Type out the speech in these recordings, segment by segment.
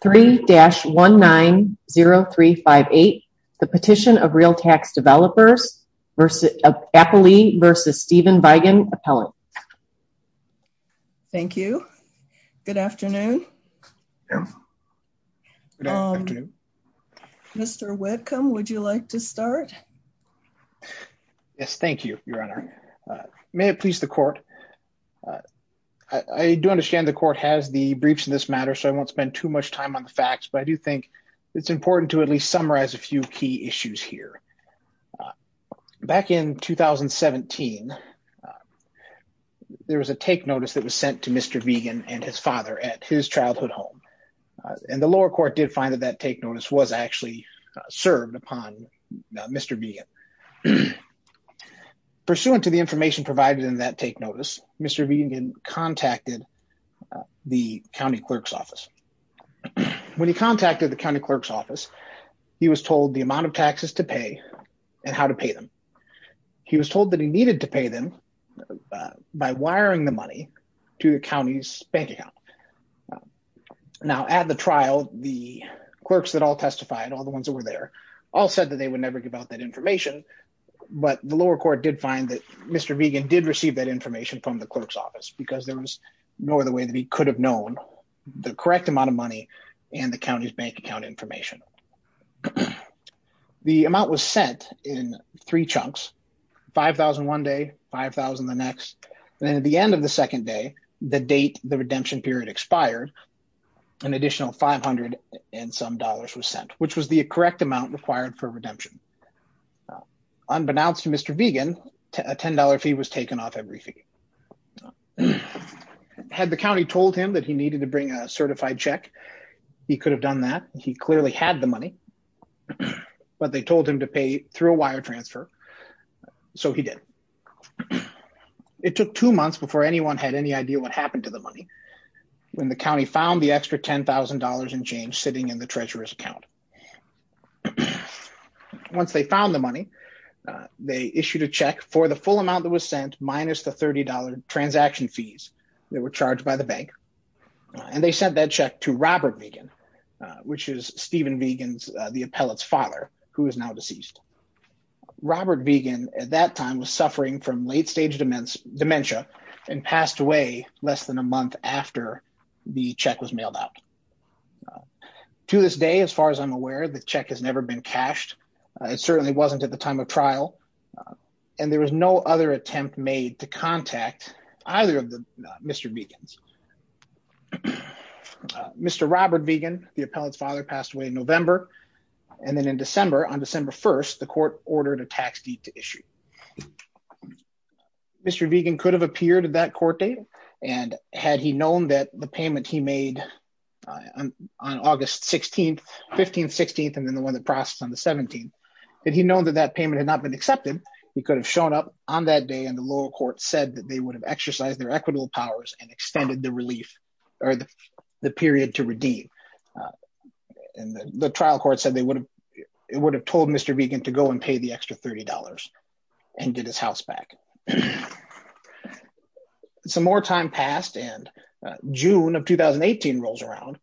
3-190358, the Petition of Realtax Developers, Appley versus Stephen Vigen, Appellant. Thank you. Good afternoon. Mr. Whitcomb, would you like to start? Yes, thank you, Your Honor. May it please the court. I do understand the court has the briefs in this matter, so I won't spend too much time on the facts, but I do think it's important to at least summarize a few key issues here. Back in 2017, there was a take notice that was sent to Mr. Vigen and his father at his childhood home. And the lower court did find that that take notice was actually served upon Mr. Vigen. Pursuant to the information provided in that take notice, Mr. Vigen contacted the county clerk's office. When he contacted the county clerk's office, he was told the amount of taxes to pay and how to pay them. He was told that he needed to pay them by wiring the money to the county's bank account. Now, at the trial, the clerks that all testified, all the ones that were there, all said that they would never give out that information, but the lower court did find that Mr. Vigen did receive that information from the clerk's office because there was no other way that he could have known the correct amount of money and the county's bank account information. The amount was sent in three chunks, 5,000 one day, 5,000 the next, and then at the end of the second day, the date the redemption period expired, which was the correct amount required for redemption. Unbeknownst to Mr. Vigen, a $10 fee was taken off every fee. Had the county told him that he needed to bring a certified check, he could have done that. He clearly had the money, but they told him to pay through a wire transfer, so he did. It took two months before anyone had any idea what happened to the money when the county found the extra $10,000 in change sitting in the treasurer's account. Once they found the money, they issued a check for the full amount that was sent minus the $30 transaction fees that were charged by the bank. And they sent that check to Robert Vigen, which is Steven Vigen's, the appellate's father, who is now deceased. Robert Vigen at that time was suffering from late stage dementia and passed away less than a month after the check was mailed out. To this day, as far as I'm aware, the check has never been cashed. It certainly wasn't at the time of trial. And there was no other attempt made to contact either of the Mr. Vigen's. Mr. Robert Vigen, the appellate's father, passed away in November. And then in December, on December 1st, the court ordered a tax deed to issue. Mr. Vigen could have appeared at that court date. And had he known that the payment he made on August 16th, 15th, 16th, and then the one that processed on the 17th, had he known that that payment had not been accepted, he could have shown up on that day and the lower court said that they would have exercised their equitable powers and extended the relief or the period to redeem. And the trial court said they would have, it would have told Mr. Vigen to go and pay the extra $30 and get his house back. And some more time passed and June of 2018 rolls around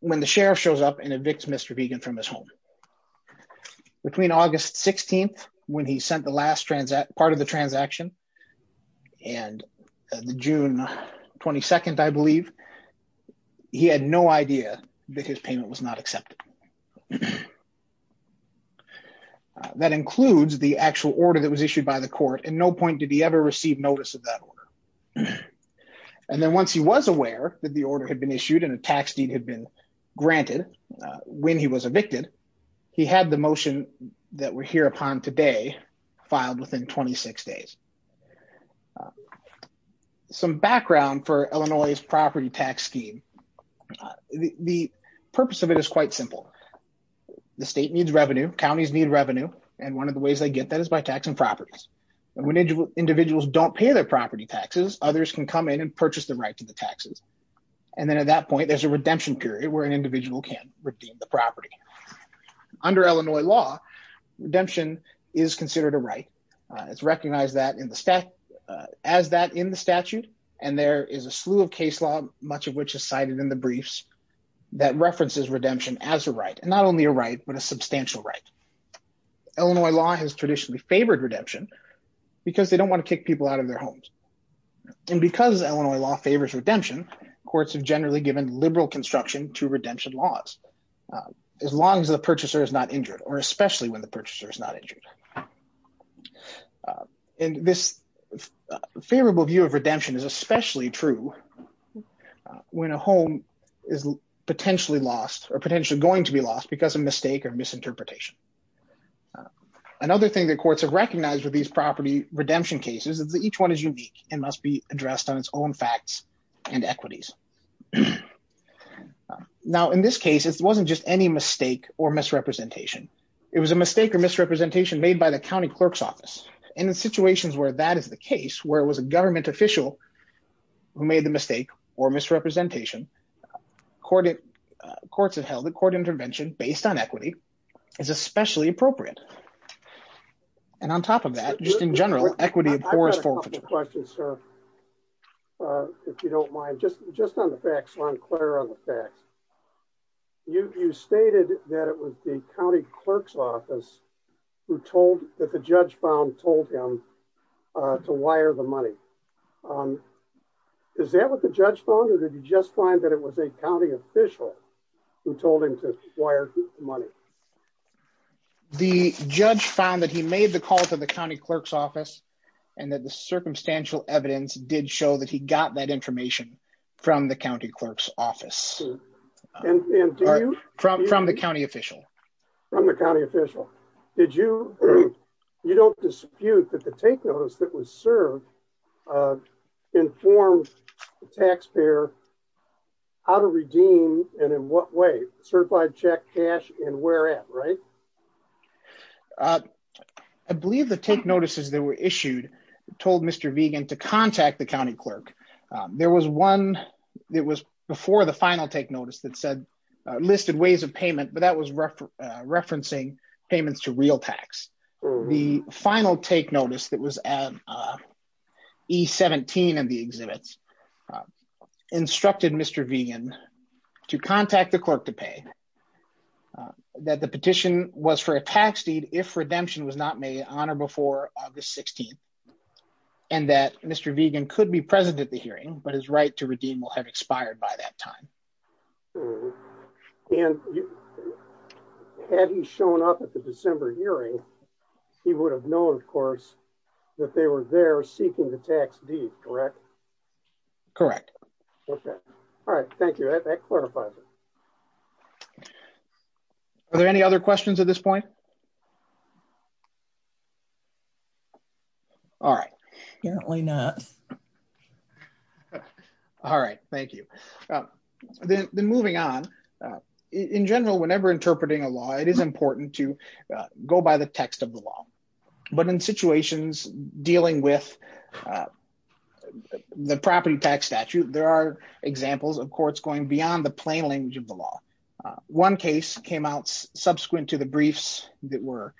when the sheriff shows up and evicts Mr. Vigen from his home. Between August 16th, when he sent the last part of the transaction and the June 22nd, I believe, he had no idea that his payment was not accepted. That includes the actual order that was issued by the court and no point did he ever receive notice of that order. And then once he was aware that the order had been issued and a tax deed had been granted when he was evicted, he had the motion that we're here upon today filed within 26 days. Some background for Illinois' property tax scheme. The purpose of it is quite simple. The state needs revenue, counties need revenue. And one of the ways they get that is by taxing properties. And when individuals don't pay their property taxes, others can come in and purchase the right to the taxes. And then at that point, there's a redemption period where an individual can redeem the property. Under Illinois law, redemption is considered a right. It's recognized as that in the statute. And there is a slew of case law, much of which is cited in the briefs that references redemption as a right. And not only a right, but a substantial right. Illinois law has traditionally favored redemption because they don't wanna kick people out of their homes. And because Illinois law favors redemption, courts have generally given liberal construction to redemption laws, as long as the purchaser is not injured or especially when the purchaser is not injured. And this favorable view of redemption is especially true when a home is potentially lost or potentially going to be lost because of mistake or misinterpretation. Another thing that courts have recognized with these property redemption cases is that each one is unique and must be addressed on its own facts and equities. Now, in this case, it wasn't just any mistake or misrepresentation. It was a mistake or misrepresentation made by the county clerk's office. And in situations where that is the case, where it was a government official who made the mistake or misrepresentation, courts have held that court intervention based on equity is especially appropriate. And on top of that, just in general, equity of course- I've got a couple of questions, sir, if you don't mind. Just on the facts, so I'm clear on the facts. You stated that it was the county clerk's office who told that the judge found told him to wire the money. Is that what the judge found or did you just find that it was a county official who told him to wire the money? The judge found that he made the call to the county clerk's office and that the circumstantial evidence did show that he got that information from the county clerk's office. From the county official. From the county official. that was served informed the taxpayer how to redeem and in what way, certified check cash and where at, right? I believe the take notices that were issued told Mr. Vigan to contact the county clerk. There was one that was before the final take notice that said listed ways of payment, but that was referencing payments to real tax. The final take notice that was at E17 and the exhibits instructed Mr. Vigan to contact the clerk to pay that the petition was for a tax deed if redemption was not made on or before August 16th and that Mr. Vigan could be present at the hearing, but his right to redeem will have expired by that time. And had he shown up at the December hearing, he would have known of course that they were there seeking the tax deed, correct? Correct. Okay. All right, thank you. That clarifies it. Are there any other questions at this point? All right. Apparently not. All right, thank you. Then moving on, in general, whenever interpreting a law, it is important to go by the text of the law, but in situations dealing with the property tax statute, there are examples of courts going beyond the plain language of the law. One case came out subsequent to the briefs that were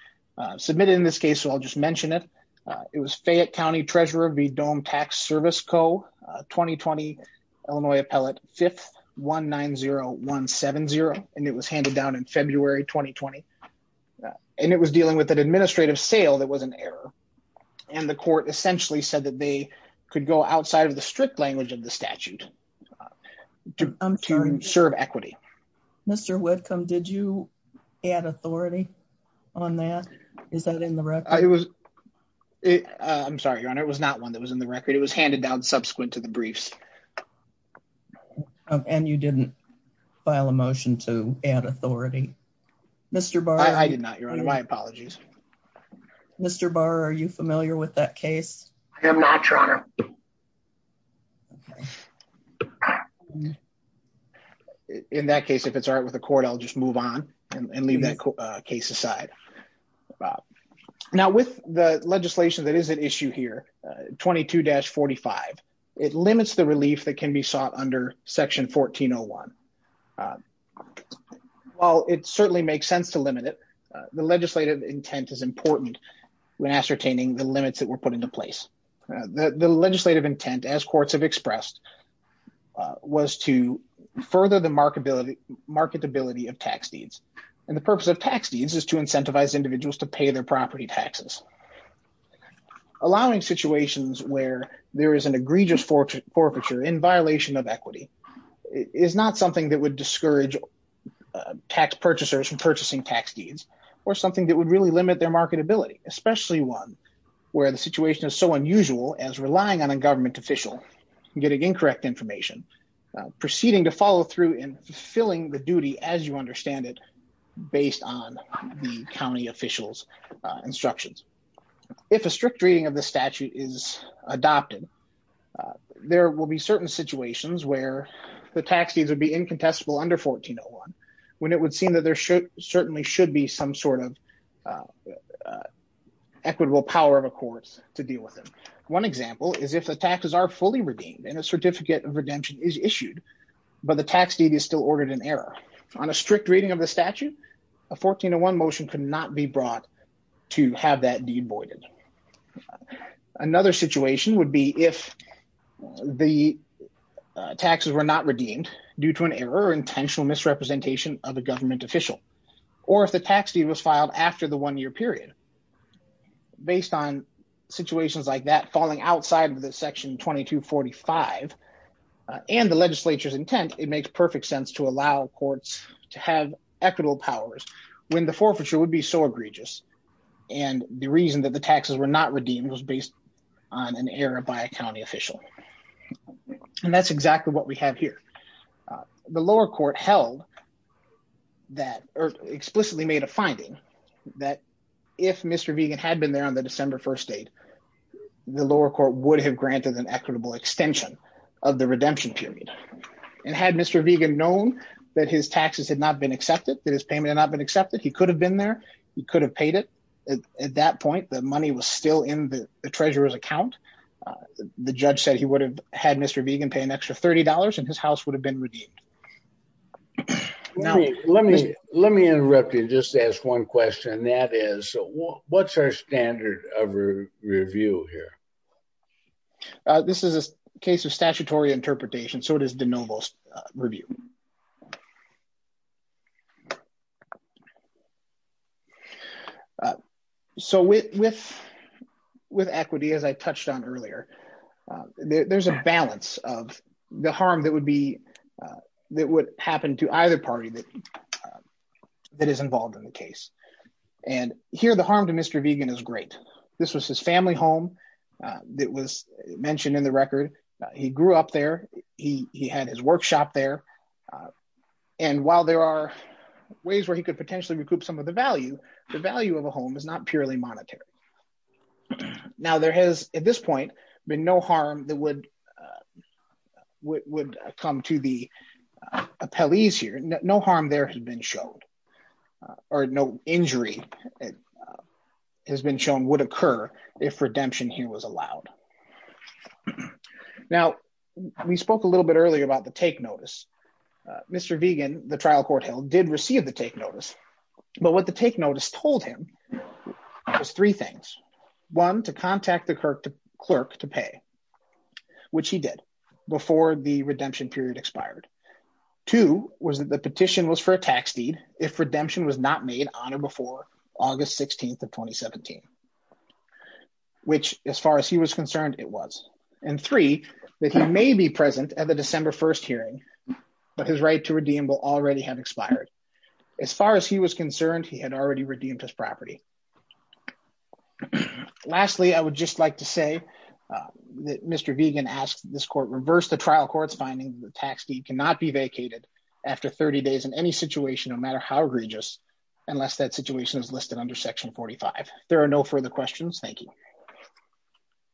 submitted in this case, so I'll just mention it. It was Fayette County Treasurer V. Dohm Tax Service Co, 2020, Illinois Appellate, 5th 190170. And it was handed down in February, 2020. And it was dealing with an administrative sale that was an error. And the court essentially said that they could go outside of the strict language of the statute to serve equity. Mr. Whitcomb, did you add authority on that? Is that in the record? It was, I'm sorry, Your Honor, it was not one that was in the record. It was handed down subsequent to the briefs. And you didn't file a motion to add authority. Mr. Barr. I did not, Your Honor. My apologies. Mr. Barr, are you familiar with that case? I am not, Your Honor. In that case, if it's all right with the court, I'll just move on and leave that case aside. Now with the legislation that is at issue here, 22-45, it limits the relief that can be sought under section 1401. While it certainly makes sense to limit it, the legislative intent is important when ascertaining the limits that were put into place. The legislative intent, as courts have expressed, was to further the marketability of tax deeds. And the purpose of tax deeds is to incentivize individuals to pay their property taxes. Allowing situations where there is an egregious forfeiture in violation of equity is not something that would discourage tax purchasers from purchasing tax deeds, or something that would really limit their marketability, especially one where the situation is so unusual as relying on a government official and getting incorrect information, proceeding to follow through and fulfilling the duty as you understand it, based on the county officials' instructions. If a strict reading of the statute is adopted, there will be certain situations where the tax deeds would be incontestable under 1401, when it would seem that there certainly should be some sort of equitable power of a courts to deal with them. One example is if the taxes are fully redeemed and a certificate of redemption is issued, but the tax deed is still ordered in error. On a strict reading of the statute, a 1401 motion could not be brought to have that deed voided. Another situation would be if the taxes were not redeemed due to an error or intentional misrepresentation of a government official, or if the tax deed was filed after the one-year period. Based on situations like that, falling outside of the section 2245 and the legislature's intent, it makes perfect sense to allow courts to have equitable powers when the forfeiture would be so egregious. And the reason that the taxes were not redeemed was based on an error by a county official. And that's exactly what we have here. The lower court held that, or explicitly made a finding that if Mr. Vegan had been there on the December 1st date, the lower court would have granted an equitable extension of the redemption period. And had Mr. Vegan known that his taxes had not been accepted, that his payment had not been accepted, he could have been there, he could have paid it. At that point, the money was still in the treasurer's account. The judge said he would have had Mr. Vegan pay an extra $30 and his house would have been redeemed. Let me interrupt you and just ask one question. That is, what's our standard of review here? This is a case of statutory interpretation, so it is de novo review. So with equity, as I touched on earlier, there's a balance of the harm that would be, that would happen to either party that is involved in the case. And here, the harm to Mr. Vegan is great. This was his family home that was mentioned in the record. He grew up there, he had his workshop there. And while there are ways where he could potentially recoup some of the value, the value of a home is not purely monetary. Now, there has, at this point, been no harm that would come to the appellees here. No harm there has been shown, or no injury has been shown would occur if redemption here was allowed. Now, we spoke a little bit earlier about the take notice. Mr. Vegan, the trial court held, did receive the take notice. But what the take notice told him was three things. One, to contact the clerk to pay, which he did before the redemption period expired. Two, was that the petition was for a tax deed if redemption was not made on or before August 16th of 2017, which, as far as he was concerned, it was. And three, that he may be present at the December 1st hearing, but his right to redeem will already have expired. As far as he was concerned, he had already redeemed his property. Lastly, I would just like to say that Mr. Vegan asked this court reverse the trial court's finding that the tax deed cannot be vacated after 30 days in any situation, no matter how egregious, unless that situation is listed under section 45. There are no further questions. Thank you.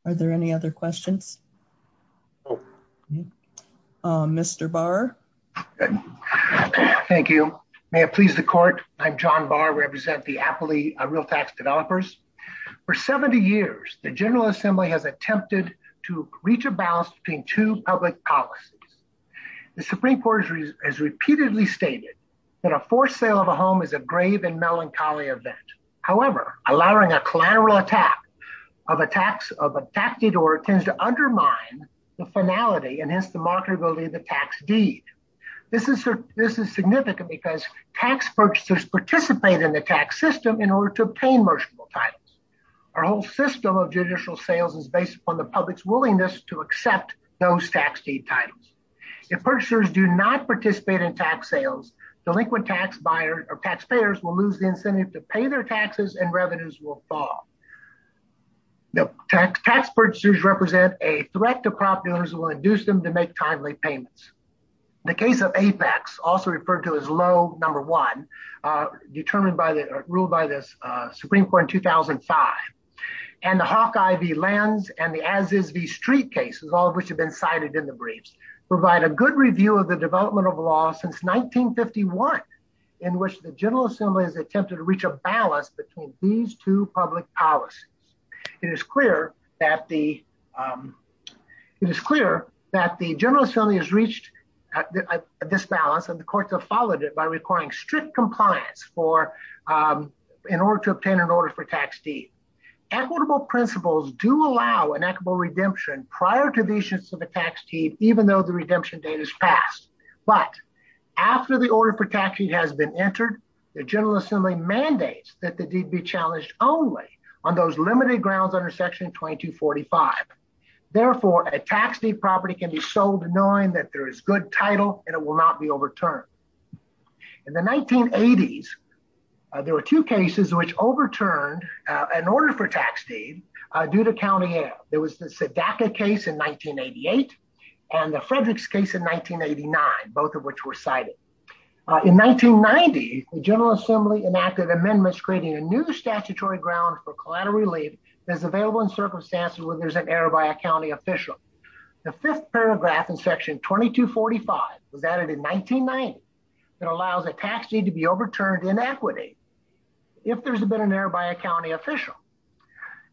Are there any other questions? Mr. Barr. Thank you. May it please the court. I'm John Barr, I represent the Appley Real Tax Developers. For 70 years, the General Assembly has attempted to reach a balance between two public policies. The Supreme Court has repeatedly stated that a forced sale of a home is a grave and melancholy event. However, allowing a collateral attack of a tax, of a tax deed or it tends to undermine the finality and hence the marketability of the tax deed. This is significant because tax purchasers participate in the tax system in order to obtain merchantable titles. Our whole system of judicial sales is based upon the public's willingness to accept those tax deed titles. If purchasers do not participate in tax sales, delinquent tax buyers or taxpayers will lose the incentive to pay their taxes and revenues will fall. Tax purchasers represent a threat to property owners who will induce them to make timely payments. The case of Apex, also referred to as low number one, determined by the rule by the Supreme Court in 2005 and the Hawkeye v. Lenz and the Aziz v. Street cases, all of which have been cited in the briefs, provide a good review of the development of law since 1951, in which the General Assembly has attempted to reach a balance between these two public policies. It is clear that the General Assembly has reached this balance and the courts have followed it by requiring strict compliance in order to obtain an order for tax deed. Equitable principles do allow an equitable redemption prior to the issuance of a tax deed, even though the redemption date is passed. But after the order for tax deed has been entered, the General Assembly mandates that the deed be challenged only on those limited grounds under section 2245. Therefore, a tax deed property can be sold knowing that there is good title and it will not be overturned. In the 1980s, there were two cases which overturned an order for tax deed due to county air. There was the Sedaca case in 1988 and the Fredericks case in 1989, both of which were cited. In 1990, the General Assembly enacted amendments creating a new statutory ground for collateral relief that's available in circumstances where there's an error by a county official. The fifth paragraph in section 2245 was added in 1990 that allows a tax deed to be overturned in equity if there's been an error by a county official.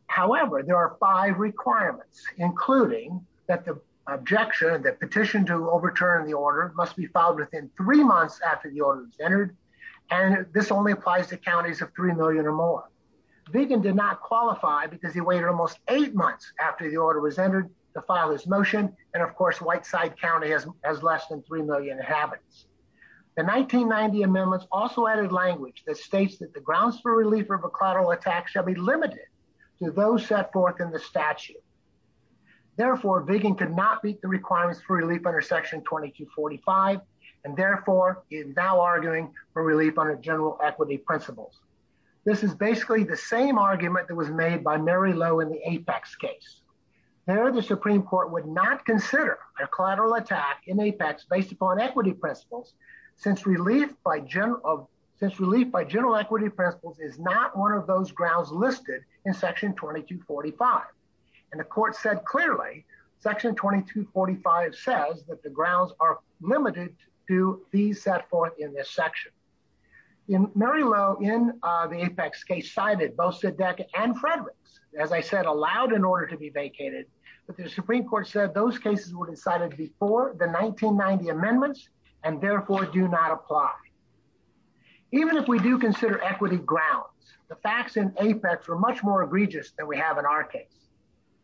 However, there are five requirements, including that the objection, the petition to overturn the order must be filed within three months after the order was entered. And this only applies to counties of 3 million or more. Viggen did not qualify because he waited almost eight months after the order was entered to file his motion. And of course, Whiteside County has less than 3 million inhabitants. The 1990 amendments also added language that states that the grounds for relief of a collateral tax shall be limited to those set forth in the statute. Therefore, Viggen could not meet the requirements for relief under section 2245, and therefore is now arguing for relief under general equity principles. This is basically the same argument that was made by Mary Lowe in the Apex case. There, the Supreme Court would not consider a collateral attack in Apex based upon equity principles since relief by general equity principles is not one of those grounds listed in section 2245. And the court said clearly, section 2245 says that the grounds are limited to these set forth in this section. In Mary Lowe, in the Apex case, cited both Siddeck and Fredericks, as I said, allowed an order to be vacated, but the Supreme Court said those cases were decided before the 1990 amendments and therefore do not apply. Even if we do consider equity grounds, the facts in Apex are much more egregious than we have in our case.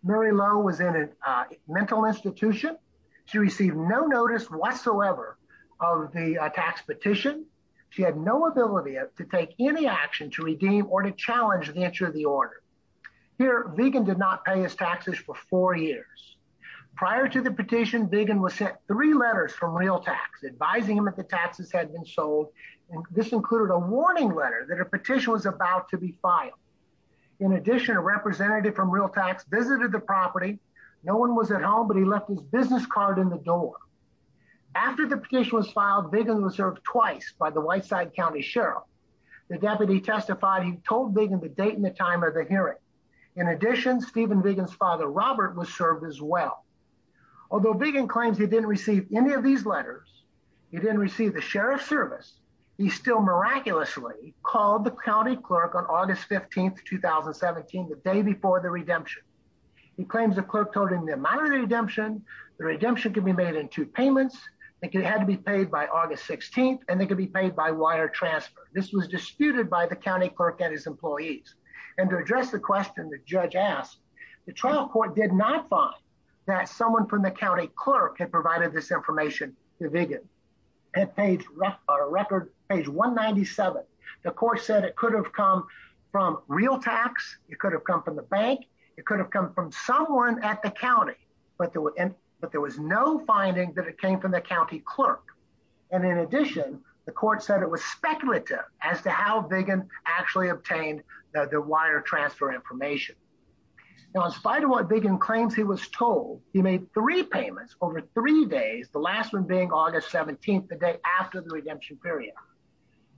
Mary Lowe was in a mental institution. She received no notice whatsoever of the tax petition. She had no ability to take any action to redeem or to challenge the entry of the order. Here, Viggen did not pay his taxes for four years. Prior to the petition, Viggen was sent three letters from Real Tax advising him that the taxes had been sold, and this included a warning letter that a petition was about to be filed. In addition, a representative from Real Tax visited the property. No one was at home, but he left his business card in the door. After the petition was filed, Viggen was served twice by the Whiteside County Sheriff. The deputy testified, he told Viggen the date and the time of the hearing. In addition, Stephen Viggen's father, Robert, was served as well. Although Viggen claims he didn't receive any of these letters, he didn't receive the sheriff's service, he still miraculously called the county clerk on August 15th, 2017, the day before the redemption. He claims the clerk told him the amount of the redemption, the redemption could be made in two payments, it had to be paid by August 16th, and it could be paid by wire transfer. This was disputed by the county clerk and his employees. And to address the question the judge asked, the trial court did not find that someone from the county clerk had provided this information to Viggen. At page 197, the court said it could have come from real tax, it could have come from the bank, it could have come from someone at the county, but there was no finding that it came from the county clerk. And in addition, the court said it was speculative as to how Viggen actually obtained the wire transfer information. Now, in spite of what Viggen claims he was told, he made three payments over three days, the last one being August 17th, the day after the redemption period.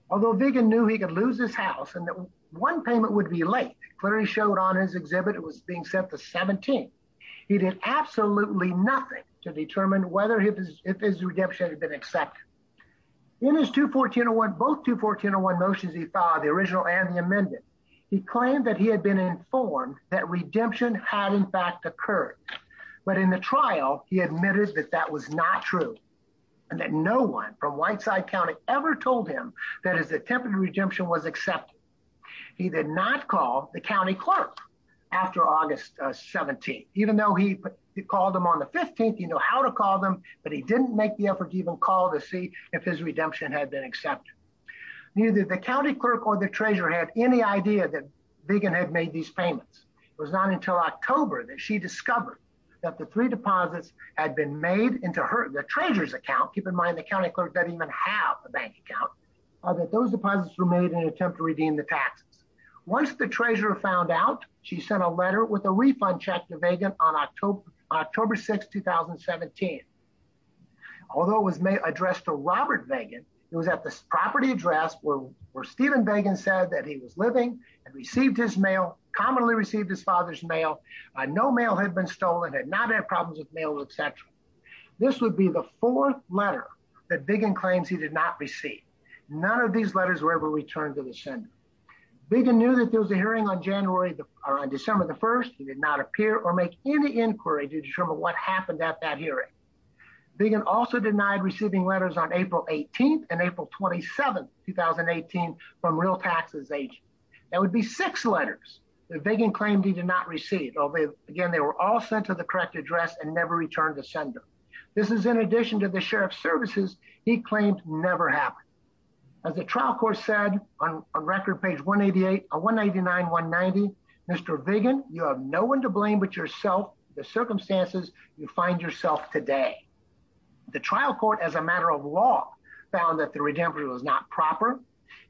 Although Viggen knew he could lose his house and that one payment would be late, clearly showed on his exhibit, it was being set the 17th. He did absolutely nothing to determine whether if his redemption had been accepted. In his 2-14-01, both 2-14-01 motions he filed, the original and the amended, he claimed that he had been informed that redemption had in fact occurred. But in the trial, he admitted that that was not true and that no one from Whiteside County ever told him that his attempted redemption was accepted. He did not call the county clerk after August 17th. Even though he called him on the 15th, he knew how to call them, but he didn't make the effort to even call to see if his redemption had been accepted. Neither the county clerk or the treasurer had any idea that Viggen had made these payments. It was not until October that she discovered that the three deposits had been made into the treasurer's account. Keep in mind, the county clerk didn't even have a bank account, that those deposits were made in an attempt to redeem the taxes. Once the treasurer found out, she sent a letter with a refund check to Viggen on October 6th, 2017. Although it was addressed to Robert Viggen, it was at the property address where Stephen Viggen said that he was living and received his mail, commonly received his father's mail. No mail had been stolen, had not had problems with mail, et cetera. This would be the fourth letter that Viggen claims he did not receive. None of these letters were ever returned to the sender. Viggen knew that there was a hearing on December the 1st. He did not appear or make any inquiry to determine what happened at that hearing. Viggen also denied receiving letters on April 18th and April 27th, 2018 from real taxes agents. That would be six letters that Viggen claimed he did not receive. Again, they were all sent to the correct address and never returned to sender. This is in addition to the sheriff's services he claimed never happened. As the trial court said on record page 188 or 189, 190, Mr. Viggen, you have no one to blame but yourself, the circumstances you find yourself today. The trial court as a matter of law found that the redemption was not proper.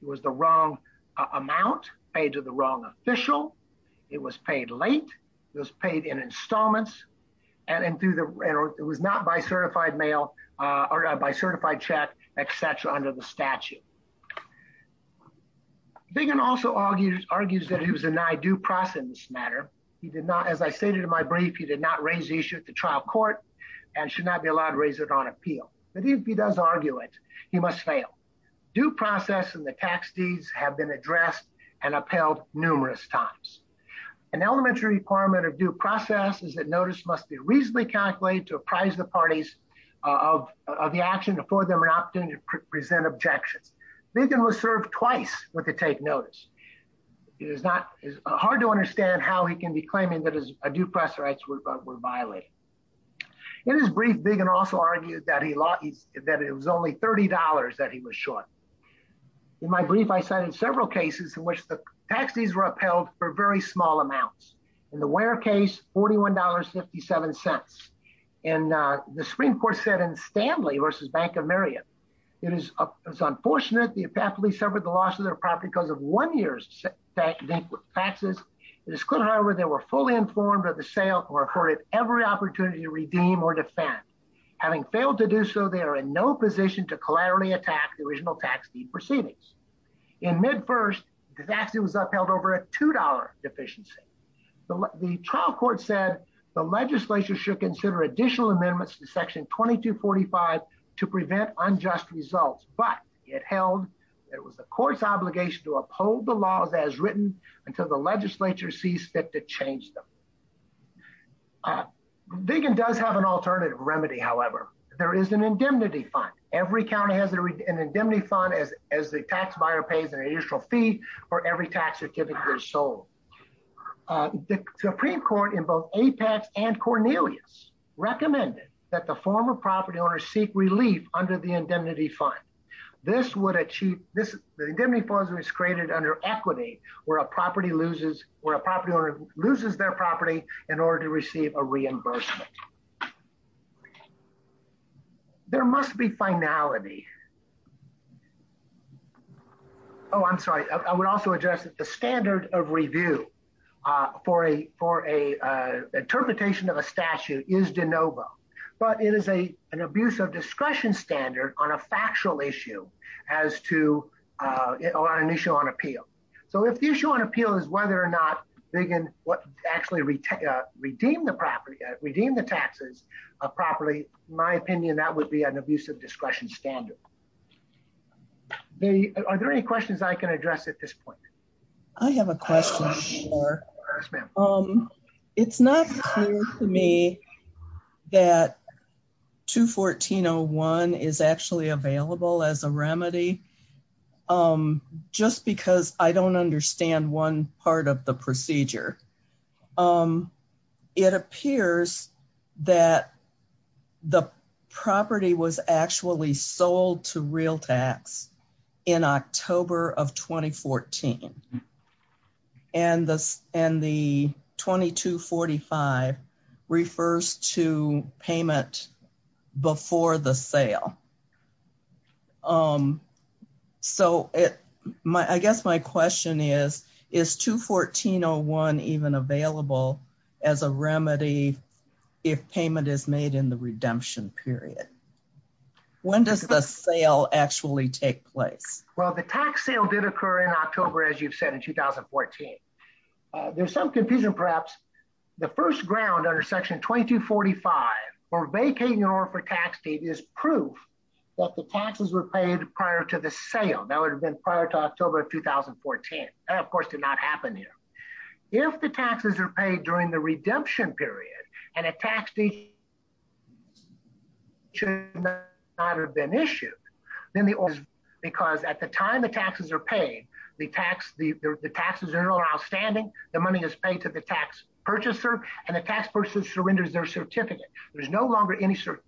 It was the wrong amount paid to the wrong official. It was paid late. It was paid in installments and it was not by certified mail or by certified check, et cetera, under the statute. Viggen also argues that he was denied due process in this matter. He did not, as I stated in my brief, he did not raise the issue at the trial court and should not be allowed to raise it on appeal. But if he does argue it, he must fail. Due process and the tax deeds have been addressed and upheld numerous times. An elementary requirement of due process is that notice must be reasonably calculated to apprise the parties of the action before they have an opportunity to present objections. Viggen was served twice with the take notice. It is hard to understand how he can be claiming that his due process rights were violated. In his brief, Viggen also argued that it was only $30 that he was short. In my brief, I cited several cases in which the tax deeds were upheld for very small amounts. In the Ware case, $41.57. And the Supreme Court said in Stanley versus Bank of Marietta, it is unfortunate the apparently suffered the loss of their property because of one year's taxes. It is clear, however, they were fully informed of the sale or afforded every opportunity to redeem or defend. Having failed to do so, they are in no position to collaterally attack the original tax deed proceedings. In mid first, the tax deed was upheld over a $2 deficiency. The trial court said the legislature should consider additional amendments to section 2245 to prevent unjust results. But it held, it was the court's obligation to uphold the laws as written until the legislature sees fit to change them. Viggen does have an alternative remedy, however. There is an indemnity fund. Every county has an indemnity fund as the tax buyer pays an additional fee for every tax certificate sold. The Supreme Court in both Apex and Cornelius recommended that the former property owner seek relief under the indemnity fund. This would achieve, the indemnity fund was created under equity where a property loses, where a property owner loses their property in order to receive a reimbursement. There must be finality. Oh, I'm sorry. I would also address that the standard of review for a interpretation of a statute is de novo. But it is an abuse of discretion standard on a factual issue as to, or on an issue on appeal. So if the issue on appeal is whether or not Viggen would actually redeem the property, redeem the taxes properly, in my opinion, that would be an abuse of discretion standard. Are there any questions I can address at this point? I have a question, sir. Yes, ma'am. It's not clear to me that 214.01 is actually available as a remedy just because I don't understand one part of the procedure. It appears that the property was actually sold to RealTax. in October of 2014. And the 2245 refers to payment before the sale. So I guess my question is, is 214.01 even available as a remedy if payment is made in the redemption period? When does the sale actually take place? Well, the tax sale did occur in October, as you've said, in 2014. There's some confusion, perhaps. The first ground under section 2245 for vacating an order for tax deed is proof that the taxes were paid prior to the sale. That would have been prior to October of 2014. That, of course, did not happen here. If the taxes are paid during the redemption period and a tax deed should not have been issued, then the order is, because at the time the taxes are paid, the taxes are no longer outstanding, the money is paid to the tax purchaser, and the tax person surrenders their certificate. There's no longer any certificate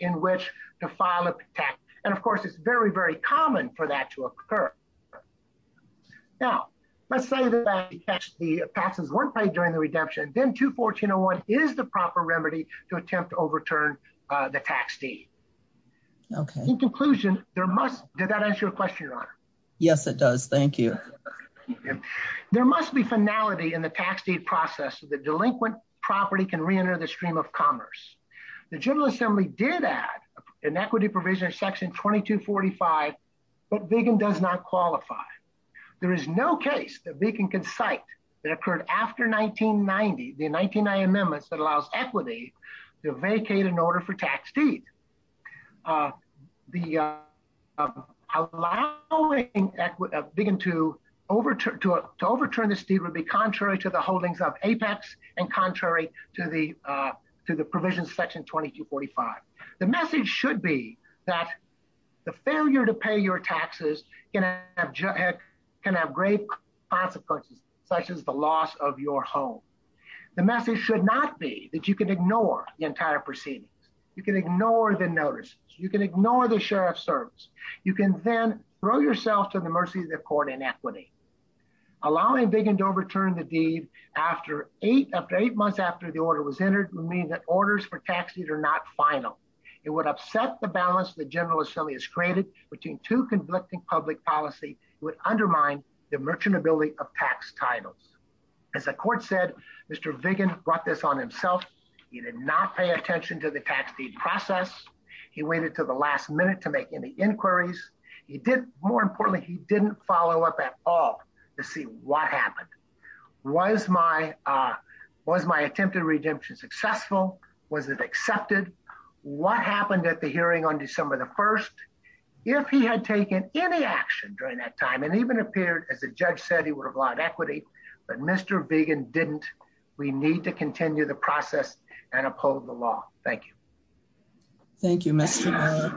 in which to file a tax. And of course, it's very, very common for that to occur. Now, let's say that the taxes weren't paid during the redemption, then 214.01 is the proper remedy to attempt to overturn the tax deed. In conclusion, there must, did that answer your question, Your Honor? Yes, it does. Thank you. There must be finality in the tax deed process so the delinquent property can reenter the stream of commerce. The General Assembly did add an equity provision under Section 2245, but Viggen does not qualify. There is no case that Viggen can cite that occurred after 1990, the 1990 amendments that allows equity to vacate an order for tax deed. The allowing Viggen to overturn this deed would be contrary to the holdings of Apex and contrary to the provisions of Section 2245. The message should be that the failure to pay your taxes can have great consequences, such as the loss of your home. The message should not be that you can ignore the entire proceedings. You can ignore the notices. You can ignore the sheriff's service. You can then throw yourself to the mercy of the court in equity. Allowing Viggen to overturn the deed after eight months after the order was entered would mean that orders for tax deed are not final. It would upset the balance the General Assembly has created between two conflicting public policy would undermine the merchantability of tax titles. As the court said, Mr. Viggen brought this on himself. He did not pay attention to the tax deed process. He waited to the last minute to make any inquiries. He did more importantly, he didn't follow up at all to see what happened. Was my attempted redemption successful? Was it accepted? What happened at the hearing on December the 1st? If he had taken any action during that time and even appeared as the judge said, he would have allowed equity, but Mr. Viggen didn't, we need to continue the process and uphold the law. Thank you. Thank you, Mr.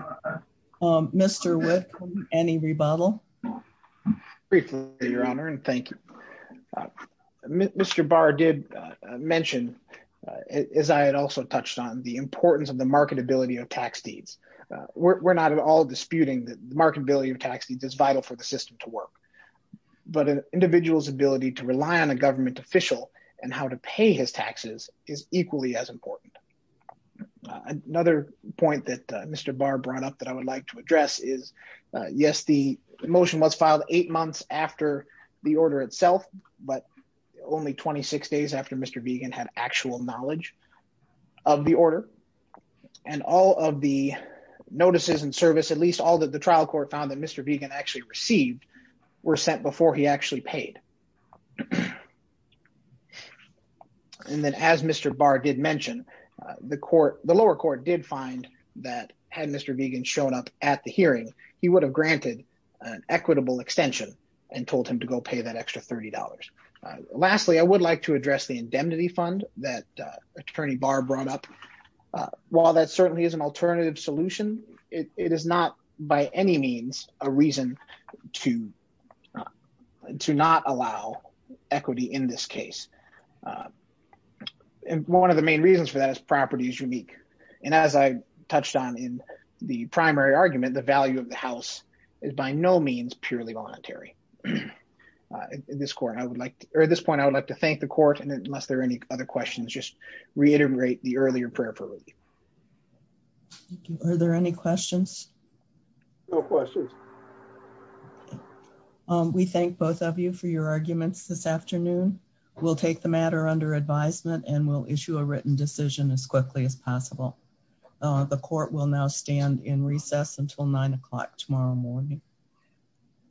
Wood. Mr. Wood, any rebuttal? Briefly, Your Honor, and thank you. Mr. Barr did mention, as I had also touched on, the importance of the marketability of tax deeds. We're not at all disputing that the marketability of tax deeds is vital for the system to work, but an individual's ability to rely on a government official and how to pay his taxes is equally as important. Another point that Mr. Barr brought up that I would like to address is, yes, the motion was filed eight months after the order itself, but only 26 days after Mr. Viggen had actual knowledge of the order and all of the notices and service, at least all that the trial court found that Mr. Viggen actually received were sent before he actually paid. And then as Mr. Barr did mention, the lower court did find that, had Mr. Viggen shown up at the hearing, he would have granted an equitable extension and told him to go pay that extra $30. Lastly, I would like to address the indemnity fund that Attorney Barr brought up. While that certainly is an alternative solution, it is not by any means a reason to not allow equity in this case. And one of the main reasons for that is property is unique. And as I touched on in the primary argument, the value of the house is by no means purely voluntary. In this court, I would like, or at this point, I would like to thank the court and unless there are any other questions, just reiterate the earlier prayer for me. Are there any questions? No questions. We thank both of you for your arguments this afternoon. We'll take the matter under advisement and we'll issue a written decision as quickly as possible. The court will now stand in recess until nine o'clock tomorrow morning.